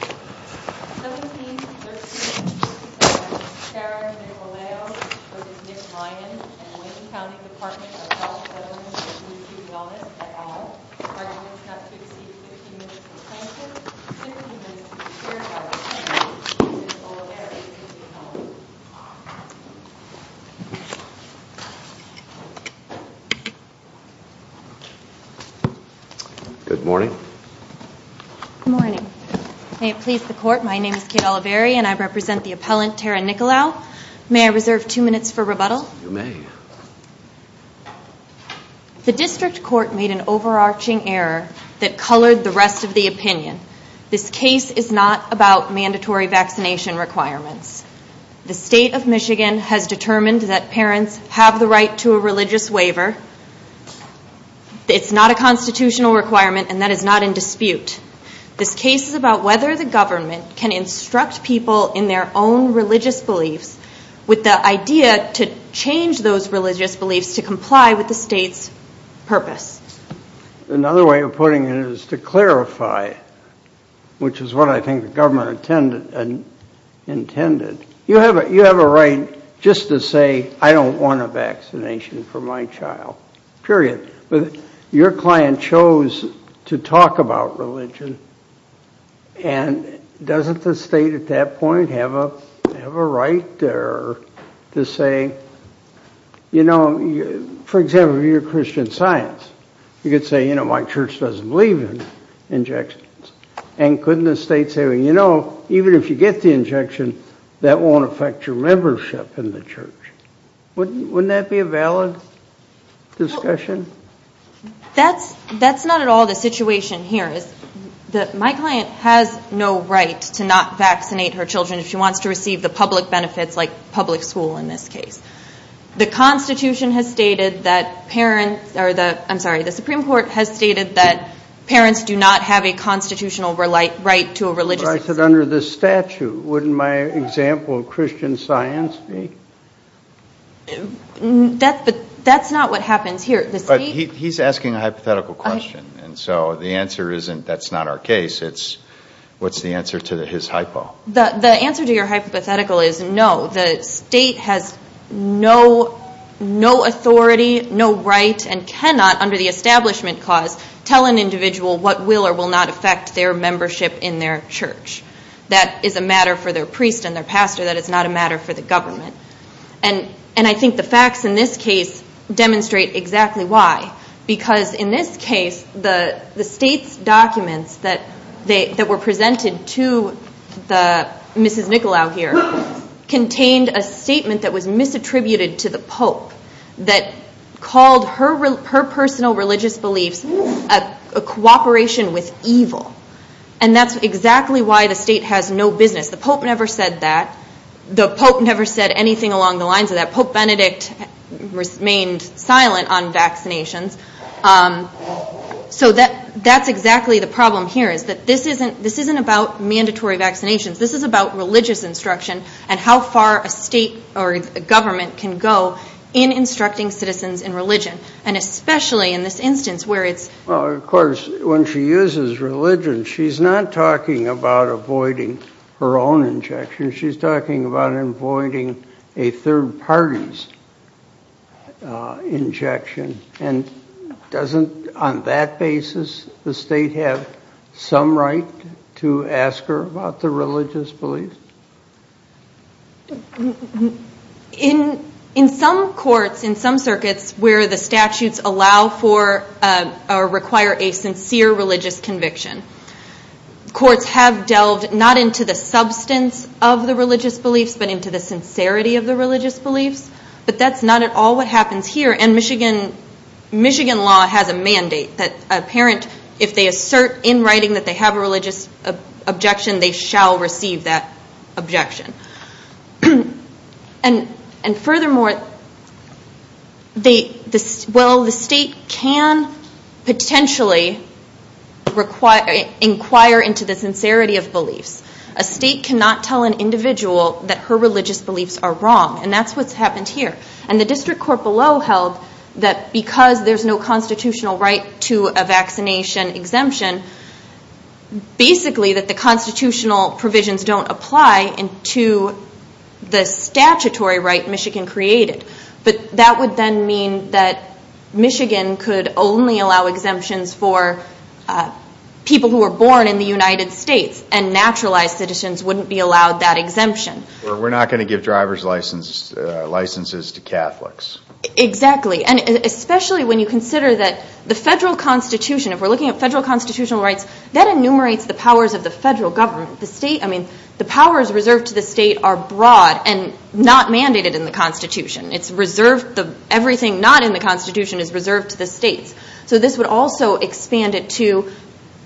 and the Wayne County Department of Health, Women's, and Community Wellness at all. The program is not to exceed 15 minutes of silence. 15 minutes will be shared by the panel. Mrs. Olavera is with you now. Good morning. Good morning. May it please the court, my name is Kate Olavera and I represent the appellant Tara Nikolao. May I reserve two minutes for rebuttal? You may. The district court made an overarching error that colored the rest of the opinion. This case is not about mandatory vaccination requirements. The state of Michigan has determined that parents have the right to a religious waiver. It's not a constitutional requirement and that is not in dispute. This case is about whether the government can instruct people in their own religious beliefs with the idea to change those religious beliefs to comply with the state's purpose. Another way of putting it is to clarify, which is what I think the government intended. You have a right just to say, I don't want a vaccination for my child. Period. Your client chose to talk about religion and doesn't the state at that point have a right there to say, you know, for example, if you're Christian Science, you could say, you know, my church doesn't believe in injections. And couldn't the state say, you know, even if you get the injection, that won't affect your membership in the church. Wouldn't that be a valid discussion? That's not at all the situation here. My client has no right to not vaccinate her children if she wants to receive the public benefits like public school in this case. The constitution has stated that parents, I'm sorry, the Supreme Court has stated that parents do not have a constitutional right to a religious. But under the statute, wouldn't my example of Christian Science be? That's not what happens here. He's asking a hypothetical question. And so the answer isn't that's not our case. It's what's the answer to his hypo? The answer to your hypothetical is no. The state has no authority, no right and cannot under the establishment cause tell an individual what will or will not affect their membership in their church. That is a matter for their priest and their pastor. That is not a matter for the government. And I think the facts in this case demonstrate exactly why. Because in this case, the state's documents that were presented to Mrs. Nicolau here contained a statement that was misattributed to the Pope. That called her personal religious beliefs a cooperation with evil. And that's exactly why the state has no business. The Pope never said that. The Pope never said anything along the lines of that. Pope Benedict remained silent on vaccinations. So that's exactly the problem here is that this isn't about mandatory vaccinations. This is about religious instruction and how far a state or a government can go in instructing citizens in religion. And especially in this instance where it's. Well, of course, when she uses religion, she's not talking about avoiding her own injection. She's talking about avoiding a third party's injection. And doesn't, on that basis, the state have some right to ask her about the religious beliefs? In some courts, in some circuits where the statutes allow for or require a sincere religious conviction, courts have delved not into the substance of the religious beliefs, but into the sincerity of the religious beliefs. But that's not at all what happens here. And Michigan law has a mandate that a parent, if they assert in writing that they have a religious objection, they shall receive that objection. And furthermore, well, the state can potentially inquire into the sincerity of beliefs. A state cannot tell an individual that her religious beliefs are wrong. And that's what's happened here. And the district court below held that because there's no constitutional right to a vaccination exemption, basically that the constitutional provisions don't apply to the statutory right Michigan created. But that would then mean that Michigan could only allow exemptions for people who were born in the United States. And naturalized citizens wouldn't be allowed that exemption. We're not going to give driver's licenses to Catholics. Exactly. And especially when you consider that the federal constitution, if we're looking at federal constitutional rights, that enumerates the powers of the federal government. The state, I mean, the powers reserved to the state are broad and not mandated in the constitution. It's reserved, everything not in the constitution is reserved to the states. So this would also expand it to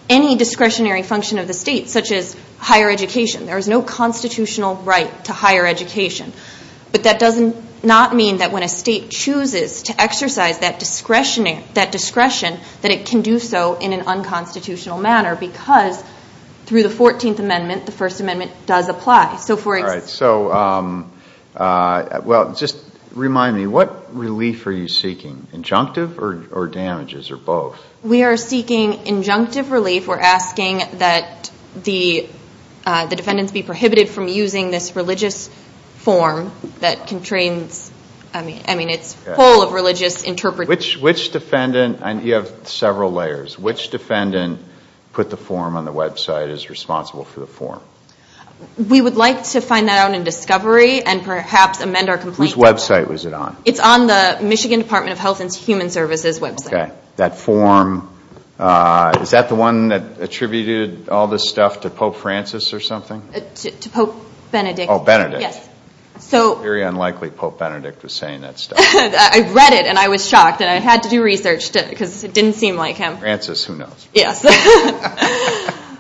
any discretionary function of the state, such as higher education. There is no constitutional right to higher education. But that does not mean that when a state chooses to exercise that discretion, that it can do so in an unconstitutional manner because through the 14th Amendment, the First Amendment does apply. All right. So, well, just remind me, what relief are you seeking, injunctive or damages or both? We are seeking injunctive relief. We're asking that the defendants be prohibited from using this religious form that constrains, I mean, it's full of religious interpretation. Which defendant, and you have several layers, which defendant put the form on the website as responsible for the form? We would like to find that out in discovery and perhaps amend our complaint. Whose website was it on? It's on the Michigan Department of Health and Human Services website. Okay. That form, is that the one that attributed all this stuff to Pope Francis or something? To Pope Benedict. Oh, Benedict. Yes. Very unlikely Pope Benedict was saying that stuff. I read it and I was shocked and I had to do research because it didn't seem like him. Francis, who knows? Yes.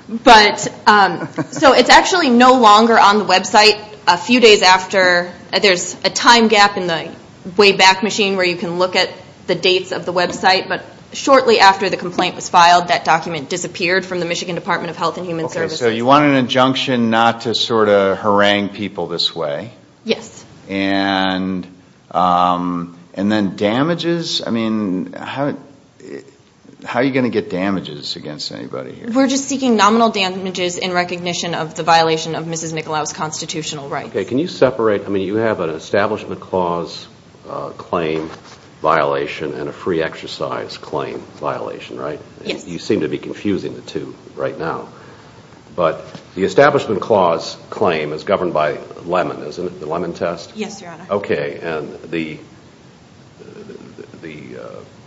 But, so it's actually no longer on the website. A few days after, there's a time gap in the Wayback Machine where you can look at the dates of the website, but shortly after the complaint was filed, that document disappeared from the Michigan Department of Health and Human Services. Okay, so you want an injunction not to sort of harangue people this way? Yes. And then damages, I mean, how are you going to get damages against anybody here? We're just seeking nominal damages in recognition of the violation of Mrs. McAllow's constitutional rights. Okay, can you separate, I mean, you have an Establishment Clause claim violation and a free exercise claim violation, right? Yes. You seem to be confusing the two right now. But the Establishment Clause claim is governed by Lemon, isn't it, the Lemon test? Yes, Your Honor. Okay, and the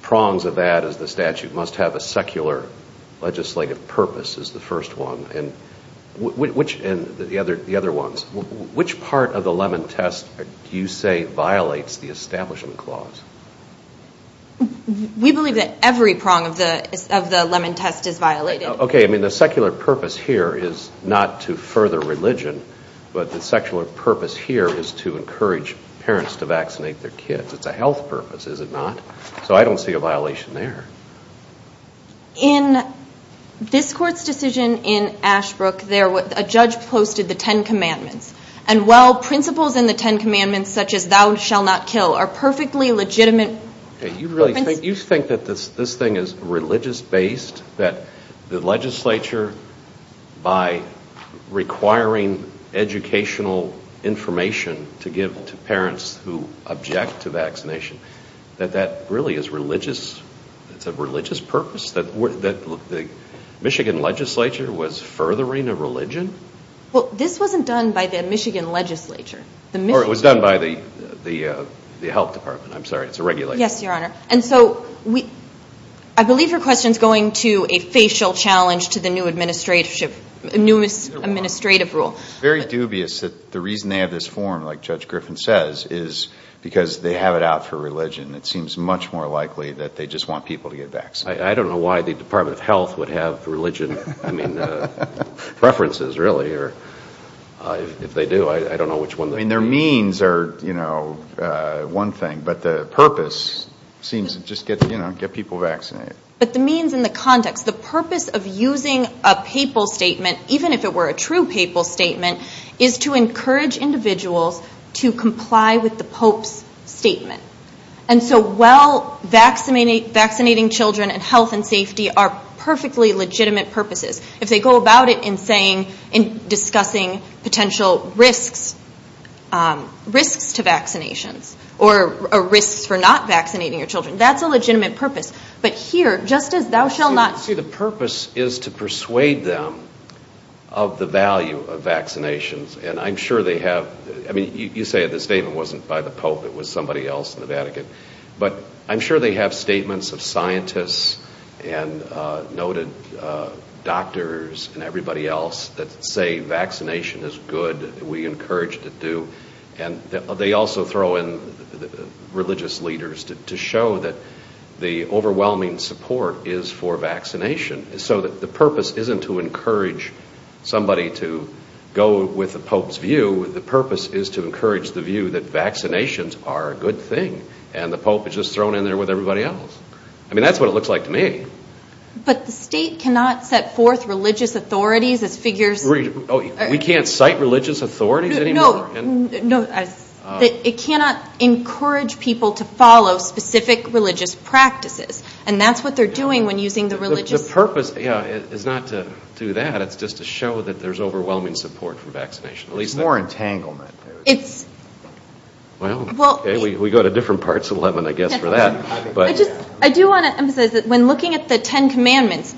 prongs of that is the statute must have a secular legislative purpose is the first one. And the other ones, which part of the Lemon test do you say violates the Establishment Clause? We believe that every prong of the Lemon test is violated. Okay, I mean, the secular purpose here is not to further religion, but the secular purpose here is to encourage parents to vaccinate their kids. It's a health purpose, is it not? So I don't see a violation there. In this Court's decision in Ashbrook, a judge posted the Ten Commandments. And while principles in the Ten Commandments, such as thou shall not kill, are perfectly legitimate. You think that this thing is religious-based, that the legislature, by requiring educational information to give to parents who object to vaccination, that that really is religious, it's a religious purpose, that the Michigan legislature was furthering a religion? Well, this wasn't done by the Michigan legislature. Or it was done by the Health Department. I'm sorry, it's a regulator. Yes, Your Honor. And so I believe your question is going to a facial challenge to the new administrative rule. It's very dubious that the reason they have this form, like Judge Griffin says, is because they have it out for religion. It seems much more likely that they just want people to get vaccinated. I don't know why the Department of Health would have religion preferences, really. If they do, I don't know which one. I mean, their means are one thing, but the purpose seems to just get people vaccinated. But the means and the context, the purpose of using a papal statement, even if it were a true papal statement, is to encourage individuals to comply with the Pope's statement. And so while vaccinating children and health and safety are perfectly legitimate purposes, if they go about it in saying, in discussing potential risks, risks to vaccinations, or risks for not vaccinating your children, that's a legitimate purpose. But here, just as thou shalt not. See, the purpose is to persuade them of the value of vaccinations. And I'm sure they have. I mean, you say the statement wasn't by the Pope. It was somebody else in the Vatican. But I'm sure they have statements of scientists and noted doctors and everybody else that say vaccination is good. We encourage to do. And they also throw in religious leaders to show that the overwhelming support is for vaccination, so that the purpose isn't to encourage somebody to go with the Pope's view. The purpose is to encourage the view that vaccinations are a good thing, and the Pope is just thrown in there with everybody else. I mean, that's what it looks like to me. But the state cannot set forth religious authorities as figures. We can't cite religious authorities anymore? No. It cannot encourage people to follow specific religious practices. And that's what they're doing when using the religious. The purpose is not to do that. It's just to show that there's overwhelming support for vaccination. It's more entanglement. Well, okay, we go to different parts of Lebanon, I guess, for that. I do want to emphasize that when looking at the Ten Commandments,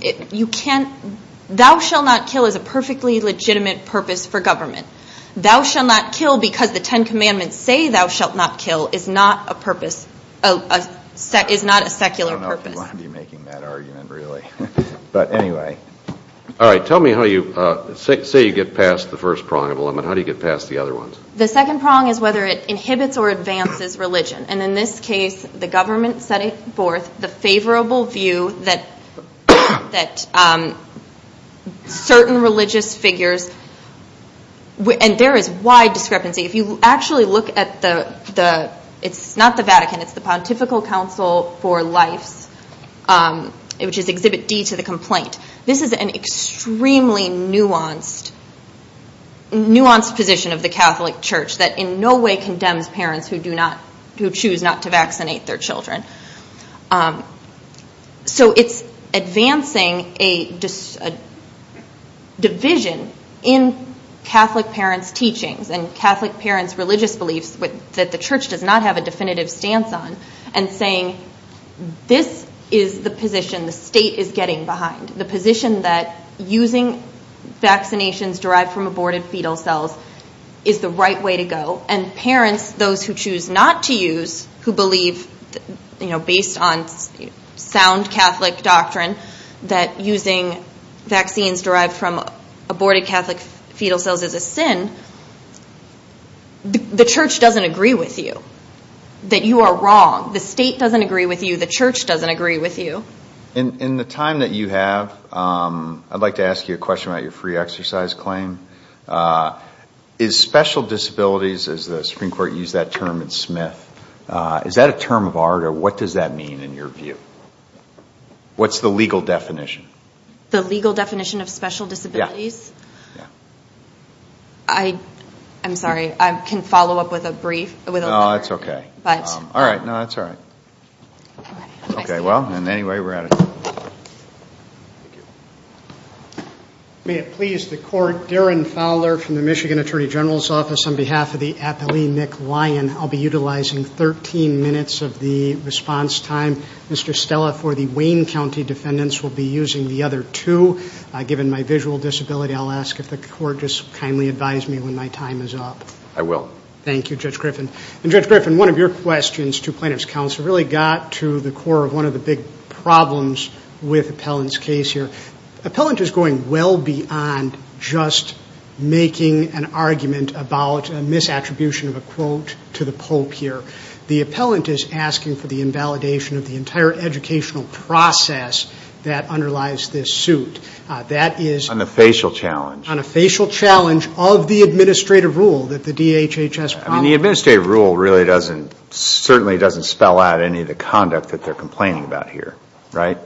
thou shall not kill is a perfectly legitimate purpose for government. Thou shall not kill because the Ten Commandments say thou shalt not kill is not a secular purpose. I don't know if you want to be making that argument, really. All right, tell me how you – say you get past the first prong of a limit. How do you get past the other ones? The second prong is whether it inhibits or advances religion. And in this case, the government setting forth the favorable view that certain religious figures – and there is wide discrepancy. If you actually look at the – it's not the Vatican. It's the Pontifical Council for Life, which is Exhibit D to the complaint. This is an extremely nuanced position of the Catholic Church that in no way condemns parents who choose not to vaccinate their children. So it's advancing a division in Catholic parents' teachings and Catholic parents' religious beliefs that the church does not have a definitive stance on and saying this is the position the state is getting behind, the position that using vaccinations derived from aborted fetal cells is the right way to go. And parents, those who choose not to use, who believe based on sound Catholic doctrine that using vaccines derived from aborted Catholic fetal cells is a sin, the church doesn't agree with you that you are wrong. The state doesn't agree with you. The church doesn't agree with you. In the time that you have, I'd like to ask you a question about your free exercise claim. Is special disabilities, as the Supreme Court used that term in Smith, is that a term of art or what does that mean in your view? What's the legal definition? The legal definition of special disabilities? Yeah. I'm sorry. I can follow up with a brief. No, that's okay. All right. No, that's all right. Okay. Well, anyway, we're out of time. Thank you. May it please the Court, Darren Fowler from the Michigan Attorney General's Office. On behalf of the athlete Nick Lyon, I'll be utilizing 13 minutes of the response time. Mr. Stella, for the Wayne County defendants, we'll be using the other two. Given my visual disability, I'll ask if the Court just kindly advise me when my time is up. I will. Thank you, Judge Griffin. And Judge Griffin, one of your questions to plaintiff's counsel really got to the core of one of the big problems with Appellant's case here. Appellant is going well beyond just making an argument about a misattribution of a quote to the Pope here. The Appellant is asking for the invalidation of the entire educational process that underlies this suit. That is on a facial challenge of the administrative rule that the DHHS promised. I mean, the administrative rule really doesn't, certainly doesn't spell out any of the conduct that they're complaining about here. Right?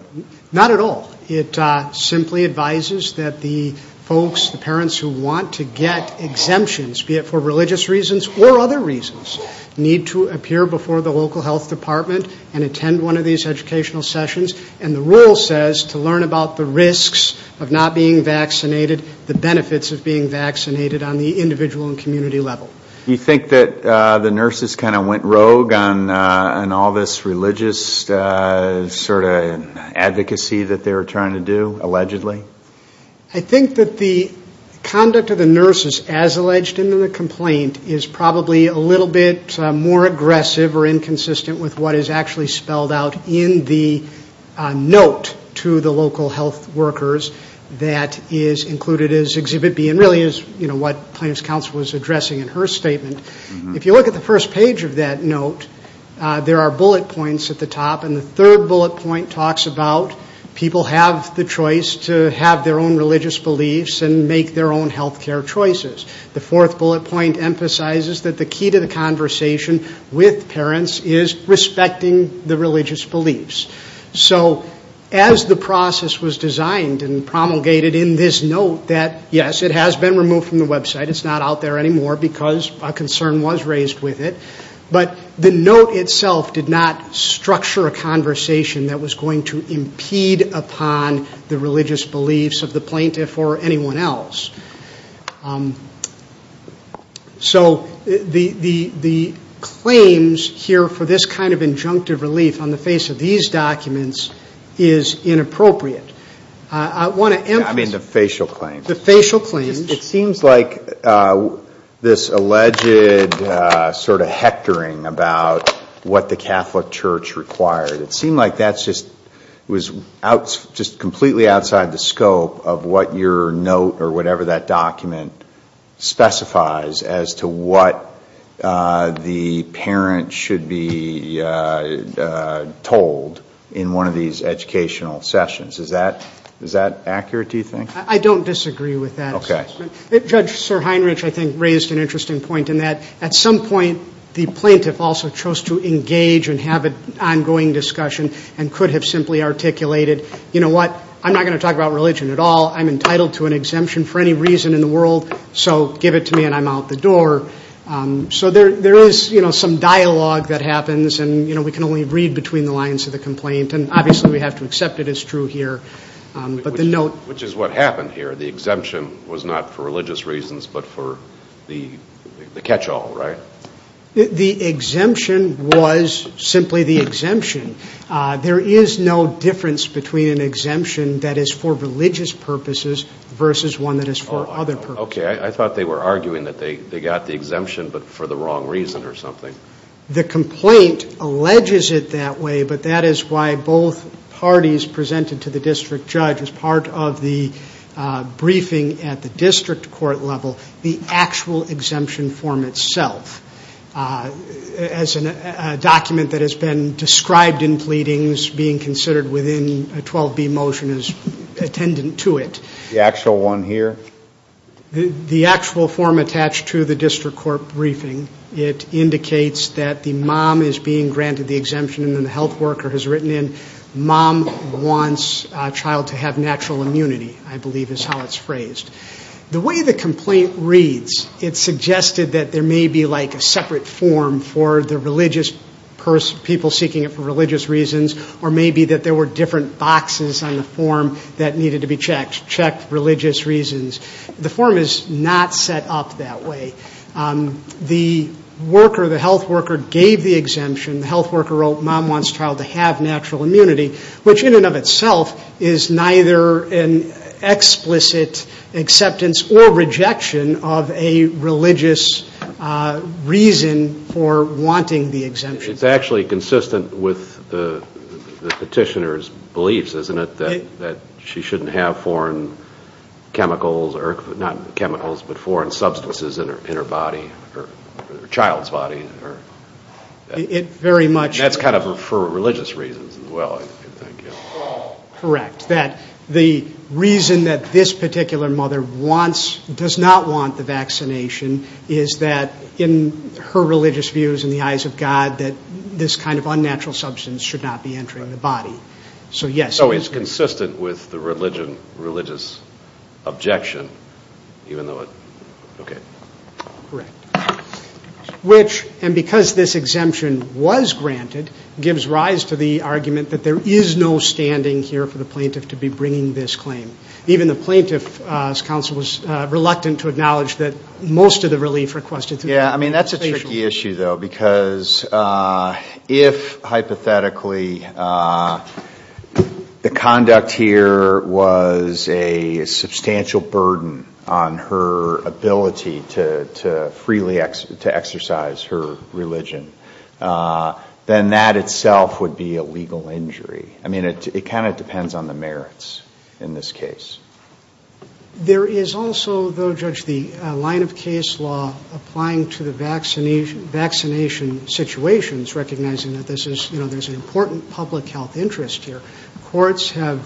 Not at all. It simply advises that the folks, the parents who want to get exemptions, be it for religious reasons or other reasons, need to appear before the local health department and attend one of these educational sessions. And the rule says to learn about the risks of not being vaccinated, the benefits of being vaccinated on the individual and community level. Do you think that the nurses kind of went rogue on all this religious sort of advocacy that they were trying to do, allegedly? I think that the conduct of the nurses as alleged in the complaint is probably a little bit more aggressive or inconsistent with what is actually spelled out in the note to the local health workers that is included as exhibit B and really is, you know, what plaintiff's counsel was addressing in her statement. If you look at the first page of that note, there are bullet points at the top. And the third bullet point talks about people have the choice to have their own religious beliefs and make their own health care choices. The fourth bullet point emphasizes that the key to the conversation with parents is respecting the religious beliefs. So as the process was designed and promulgated in this note that, yes, it has been removed from the website. It's not out there anymore because a concern was raised with it. But the note itself did not structure a conversation that was going to impede upon the religious beliefs of the plaintiff or anyone else. So the claims here for this kind of injunctive relief on the face of these documents is inappropriate. I want to emphasize. I mean the facial claims. The facial claims. It seems like this alleged sort of hectoring about what the Catholic Church required, it seemed like that's just completely outside the scope of what your note or whatever that document specifies as to what the parent should be told in one of these educational sessions. Is that accurate, do you think? I don't disagree with that assessment. Okay. Judge Sir Heinrich, I think, raised an interesting point in that at some point the plaintiff also chose to engage and have an ongoing discussion and could have simply articulated, you know what, I'm not going to talk about religion at all. I'm entitled to an exemption for any reason in the world, so give it to me and I'm out the door. So there is, you know, some dialogue that happens, and, you know, we can only read between the lines of the complaint. And obviously we have to accept it as true here. Which is what happened here. The exemption was not for religious reasons but for the catch-all, right? The exemption was simply the exemption. There is no difference between an exemption that is for religious purposes versus one that is for other purposes. Okay. I thought they were arguing that they got the exemption but for the wrong reason or something. The complaint alleges it that way, but that is why both parties presented to the district judge, as part of the briefing at the district court level, the actual exemption form itself. As a document that has been described in pleadings, being considered within a 12B motion as attendant to it. The actual one here? The actual form attached to the district court briefing. It indicates that the mom is being granted the exemption and the health worker has written in, mom wants child to have natural immunity, I believe is how it's phrased. The way the complaint reads, it suggested that there may be like a separate form for the religious person, people seeking it for religious reasons, or maybe that there were different boxes on the form that needed to be checked. Checked religious reasons. The form is not set up that way. The worker, the health worker, gave the exemption. The health worker wrote mom wants child to have natural immunity, which in and of itself is neither an explicit acceptance or rejection of a religious reason for wanting the exemption. It's actually consistent with the petitioner's beliefs, isn't it, that she shouldn't have foreign chemicals, not chemicals, but foreign substances in her body, her child's body. That's kind of for religious reasons as well, I think. Correct. The reason that this particular mother does not want the vaccination is that in her religious views, in the eyes of God, that this kind of unnatural substance should not be entering the body. So, yes. So it's consistent with the religious objection, even though it, okay. Correct. Which, and because this exemption was granted, gives rise to the argument that there is no standing here for the plaintiff to be bringing this claim. Even the plaintiff's counsel was reluctant to acknowledge that most of the relief requested through the application. And that's a tricky issue, though, because if, hypothetically, the conduct here was a substantial burden on her ability to freely exercise her religion, then that itself would be a legal injury. I mean, it kind of depends on the merits in this case. There is also, though, Judge, the line of case law applying to the vaccination situations, recognizing that this is, you know, there's an important public health interest here. Courts have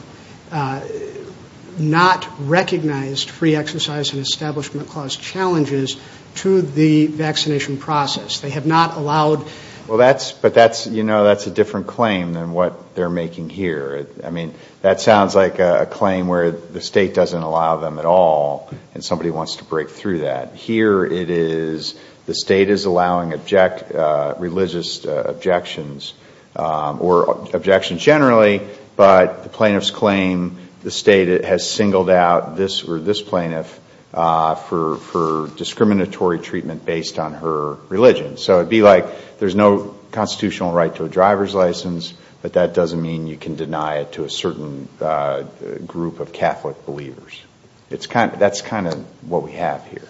not recognized free exercise and establishment clause challenges to the vaccination process. They have not allowed. Well, that's, but that's, you know, that's a different claim than what they're making here. I mean, that sounds like a claim where the State doesn't allow them at all, and somebody wants to break through that. Here it is, the State is allowing religious objections, or objections generally, but the plaintiff's claim, the State has singled out this plaintiff for discriminatory treatment based on her religion. So it would be like there's no constitutional right to a driver's license, but that doesn't mean you can deny it to a certain group of Catholic believers. That's kind of what we have here.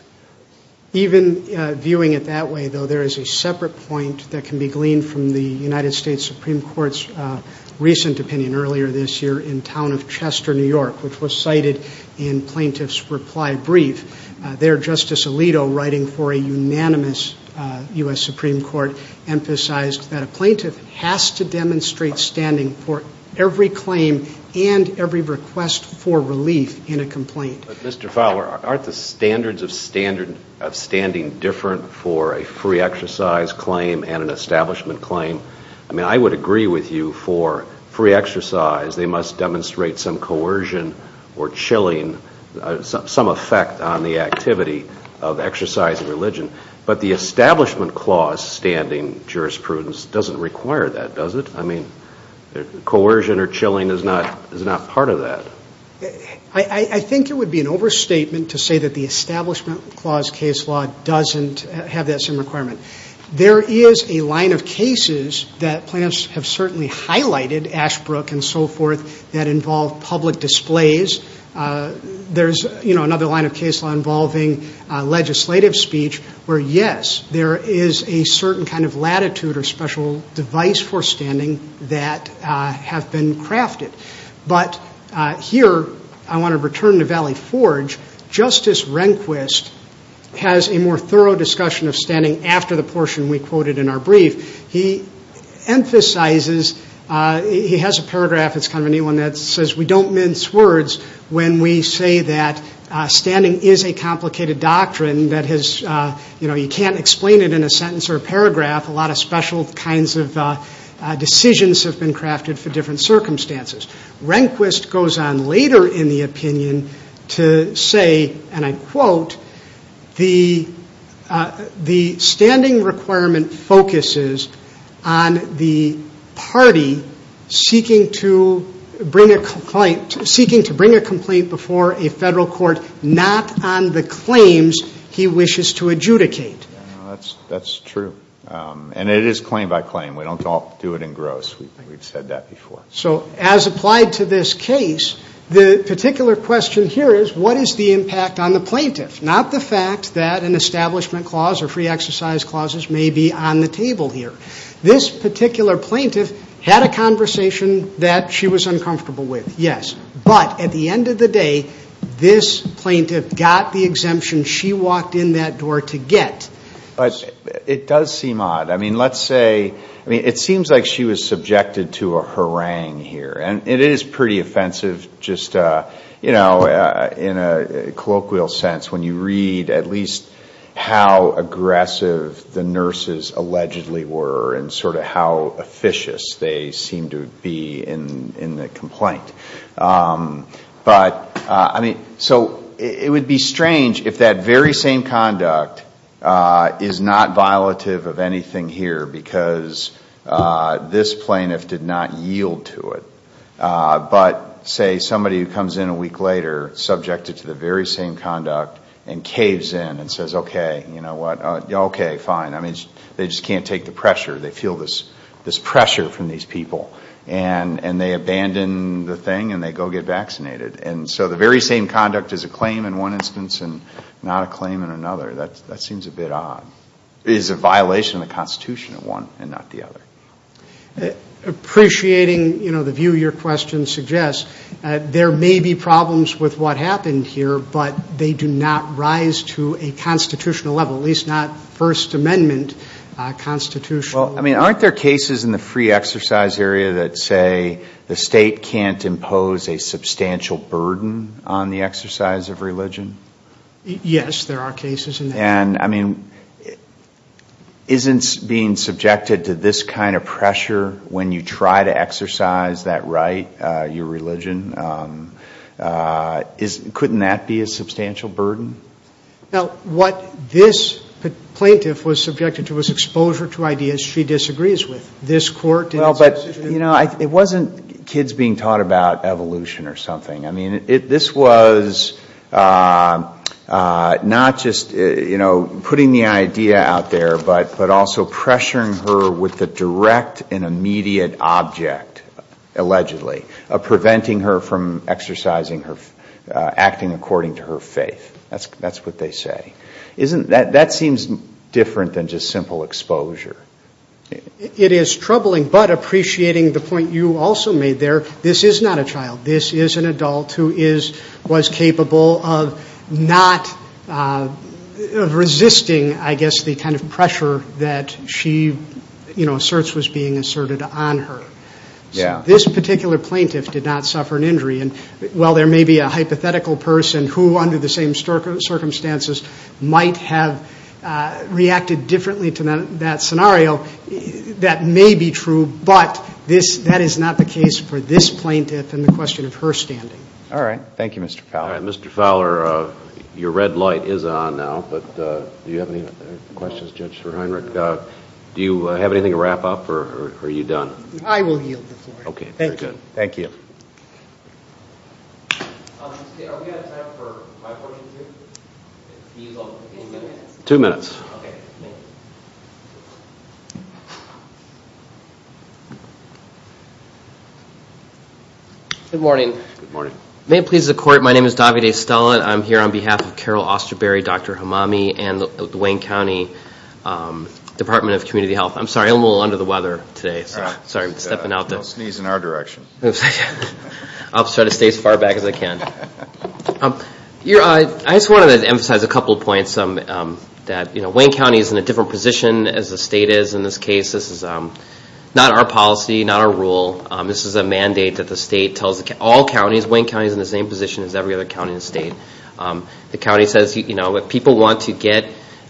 Even viewing it that way, though, there is a separate point that can be gleaned from the United States Supreme Court's recent opinion earlier this year in town of Chester, New York, which was cited in plaintiff's reply brief. There, Justice Alito, writing for a unanimous U.S. Supreme Court, emphasized that a plaintiff has to demonstrate standing for every claim and every request for relief in a complaint. But, Mr. Fowler, aren't the standards of standing different for a free exercise claim and an establishment claim? I mean, I would agree with you for free exercise, they must demonstrate some coercion or chilling, some effect on the activity of exercising religion. But the establishment clause standing jurisprudence doesn't require that, does it? I mean, coercion or chilling is not part of that. I think it would be an overstatement to say that the establishment clause case law doesn't have that same requirement. There is a line of cases that plaintiffs have certainly highlighted, Ashbrook and so forth, that involve public displays. There's, you know, another line of case law involving legislative speech where, yes, there is a certain kind of latitude or special device for standing that have been crafted. But here, I want to return to Valley Forge, Justice Rehnquist has a more thorough discussion of standing after the portion we quoted in our brief. He emphasizes, he has a paragraph, it's kind of a neat one, that says we don't mince words when we say that standing is a complicated doctrine that has, you know, you can't explain it in a sentence or a paragraph. A lot of special kinds of decisions have been crafted for different circumstances. Rehnquist goes on later in the opinion to say, and I quote, the standing requirement focuses on the party seeking to bring a complaint before a federal court not on the claims he wishes to adjudicate. That's true. And it is claim by claim. We don't all do it in gross. We've said that before. So as applied to this case, the particular question here is, what is the impact on the plaintiff? Not the fact that an establishment clause or free exercise clauses may be on the table here. This particular plaintiff had a conversation that she was uncomfortable with, yes. But at the end of the day, this plaintiff got the exemption she walked in that door to get. But it does seem odd. I mean, let's say, I mean, it seems like she was subjected to a harangue here. And it is pretty offensive just, you know, in a colloquial sense when you read at least how aggressive the nurses allegedly were and sort of how officious they seem to be in the complaint. But, I mean, so it would be strange if that very same conduct is not violative of anything here because this plaintiff did not yield to it. But, say, somebody who comes in a week later subjected to the very same conduct and caves in and says, okay, you know what, okay, fine. I mean, they just can't take the pressure. They feel this pressure from these people. And they abandon the thing and they go get vaccinated. And so the very same conduct is a claim in one instance and not a claim in another. That seems a bit odd. It is a violation of the Constitution at one and not the other. Appreciating, you know, the view your question suggests, there may be problems with what happened here, but they do not rise to a constitutional level, at least not First Amendment constitutional. Well, I mean, aren't there cases in the free exercise area that say the State can't impose a substantial burden on the exercise of religion? Yes, there are cases in that. And, I mean, isn't being subjected to this kind of pressure when you try to exercise that right, your religion, couldn't that be a substantial burden? Now, what this plaintiff was subjected to was exposure to ideas she disagrees with. This Court did. Well, but, you know, it wasn't kids being taught about evolution or something. I mean, this was not just, you know, putting the idea out there, but also pressuring her with the direct and immediate object, allegedly, of preventing her from exercising her, acting according to her faith. That's what they say. That seems different than just simple exposure. It is troubling, but appreciating the point you also made there, this is not a child. This is an adult who was capable of not resisting, I guess, the kind of pressure that she, you know, asserts was being asserted on her. Yeah. This particular plaintiff did not suffer an injury. And while there may be a hypothetical person who, under the same circumstances, might have reacted differently to that scenario, that may be true, but that is not the case for this plaintiff and the question of her standing. All right. Thank you, Mr. Fowler. All right. Mr. Fowler, your red light is on now, but do you have any questions, Judge Reinrich? Do you have anything to wrap up, or are you done? I will yield the floor. Okay. Thank you. Very good. Thank you. Are we out of time for my questions here? Two minutes. Two minutes. Okay. Thank you. Good morning. Good morning. May it please the Court, my name is Davide Stallon. I'm here on behalf of Carol Osterberry, Dr. Hamami, and the Wayne County Department of Community Health. I'm sorry, I'm a little under the weather today. Sorry for stepping out there. Don't sneeze in our direction. I'll try to stay as far back as I can. I just wanted to emphasize a couple of points. Wayne County is in a different position as the state is in this case. This is not our policy, not our rule. This is a mandate that the state tells all counties, Wayne County is in the same position as every other county in the state. The county says, you know, if people want to get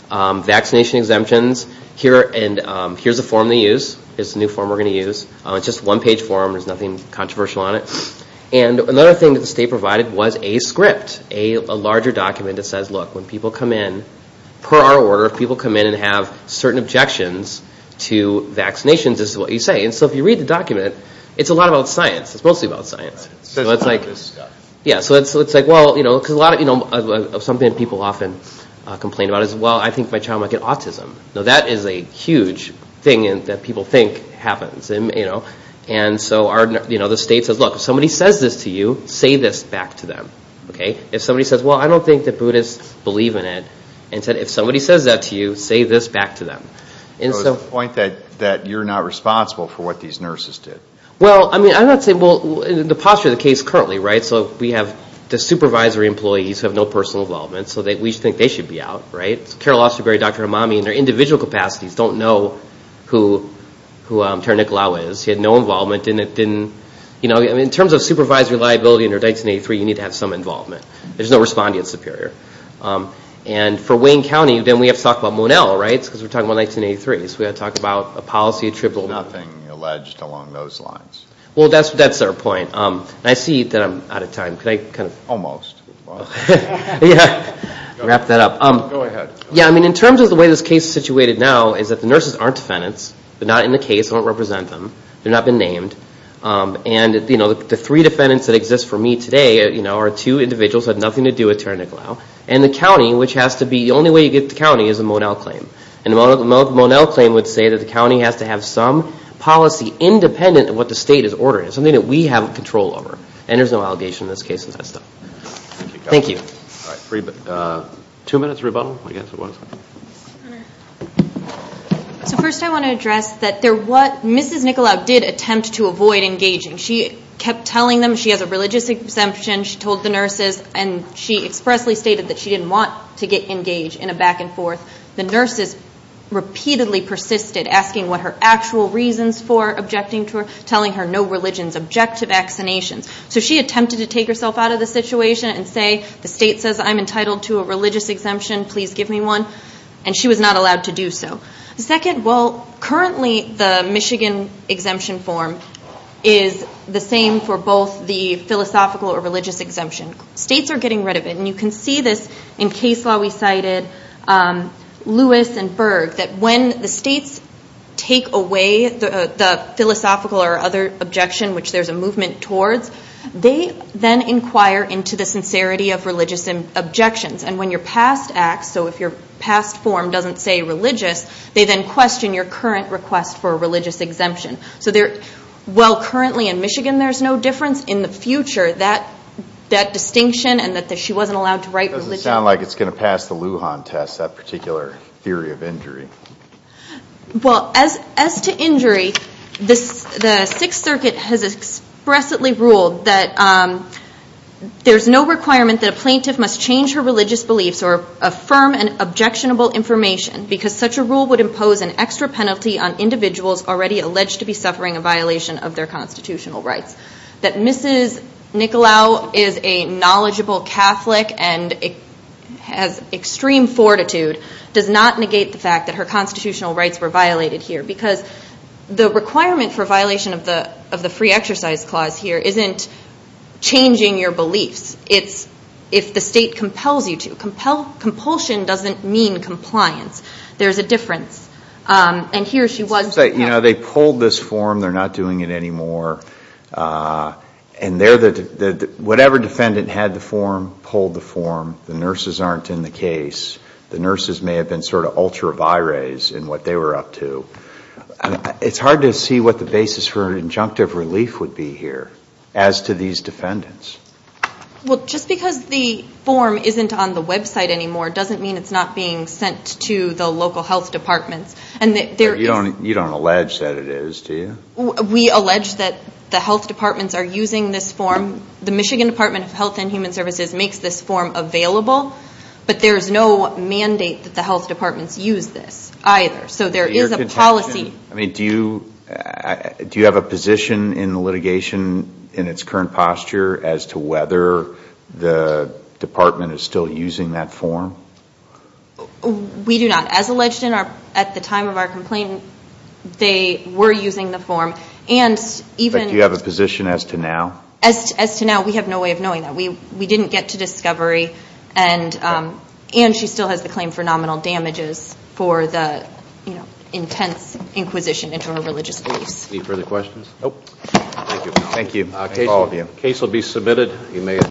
vaccination exemptions, here's a form they use. It's a new form we're going to use. It's just a one-page form. There's nothing controversial on it. And another thing that the state provided was a script, a larger document that says, look, when people come in, per our order, if people come in and have certain objections to vaccinations, this is what you say. And so if you read the document, it's a lot about science. It's mostly about science. So it's like, well, you know, something that people often complain about is, well, I think my child might get autism. Now, that is a huge thing that people think happens. And so the state says, look, if somebody says this to you, say this back to them. If somebody says, well, I don't think that Buddhists believe in it, and said, if somebody says that to you, say this back to them. So it's a point that you're not responsible for what these nurses did. Well, I mean, I'm not saying, well, the posture of the case currently, right? So we have the supervisory employees who have no personal involvement, so we think they should be out, right? Carol Osterberry, Dr. Hammami, in their individual capacities, don't know who Tara Nicolaou is. She had no involvement. In terms of supervisory liability under 1983, you need to have some involvement. There's no respondent superior. And for Wayne County, then we have to talk about Monell, right? Because we're talking about 1983. So we've got to talk about a policy attributable to Monell. Well, that's our point. And I see that I'm out of time. Could I kind of? Almost. Yeah. Wrap that up. Go ahead. Yeah, I mean, in terms of the way this case is situated now, is that the nurses aren't defendants. They're not in the case. They don't represent them. They've not been named. And, you know, the three defendants that exist for me today, you know, are two individuals who have nothing to do with Tara Nicolaou. And the county, which has to be, the only way you get to the county is a Monell claim. And the Monell claim would say that the county has to have some policy independent of what the state is ordering. It's something that we have control over. And there's no allegation in this case of that stuff. Thank you. All right. Two minutes rebuttal, I guess it was. So first I want to address that there was Mrs. Nicolaou did attempt to avoid engaging. She kept telling them she has a religious exemption. She told the nurses. And she expressly stated that she didn't want to get engaged in a back and forth. The nurses repeatedly persisted asking what her actual reasons for objecting to her, telling her no religions, objective vaccinations. So she attempted to take herself out of the situation and say the state says I'm entitled to a religious exemption, please give me one. And she was not allowed to do so. Second, well, currently the Michigan exemption form is the same for both the philosophical or religious exemption. States are getting rid of it. And you can see this in case law we cited, Lewis and Berg, that when the states take away the philosophical or other objection, which there's a movement towards, they then inquire into the sincerity of religious objections. And when your past acts, so if your past form doesn't say religious, they then question your current request for a religious exemption. So while currently in Michigan there's no difference, in the future that distinction and that she wasn't allowed to write religion. It doesn't sound like it's going to pass the Lujan test, that particular theory of injury. Well, as to injury, the Sixth Circuit has expressly ruled that there's no requirement that a plaintiff must change her religious beliefs or affirm an objectionable information because such a rule would impose an extra penalty on individuals already alleged to be suffering a violation of their constitutional rights. That Mrs. Nicolau is a knowledgeable Catholic and has extreme fortitude does not negate the fact that her constitutional rights were violated here. Because the requirement for violation of the free exercise clause here isn't changing your beliefs. It's if the state compels you to. Compulsion doesn't mean compliance. There's a difference. And here she was. They pulled this form. They're not doing it anymore. And whatever defendant had the form pulled the form. The nurses aren't in the case. The nurses may have been sort of ultra vires in what they were up to. It's hard to see what the basis for an injunctive relief would be here as to these defendants. Well, just because the form isn't on the website anymore doesn't mean it's not being sent to the local health departments. You don't allege that it is, do you? We allege that the health departments are using this form. The Michigan Department of Health and Human Services makes this form available. But there's no mandate that the health departments use this either. So there is a policy. Do you have a position in the litigation in its current posture as to whether the department is still using that form? We do not. As alleged at the time of our complaint, they were using the form. But do you have a position as to now? As to now, we have no way of knowing that. We didn't get to discovery. And she still has the claim for nominal damages for the intense inquisition into her religious beliefs. Any further questions? Nope. Thank you. Thank all of you. Case will be submitted.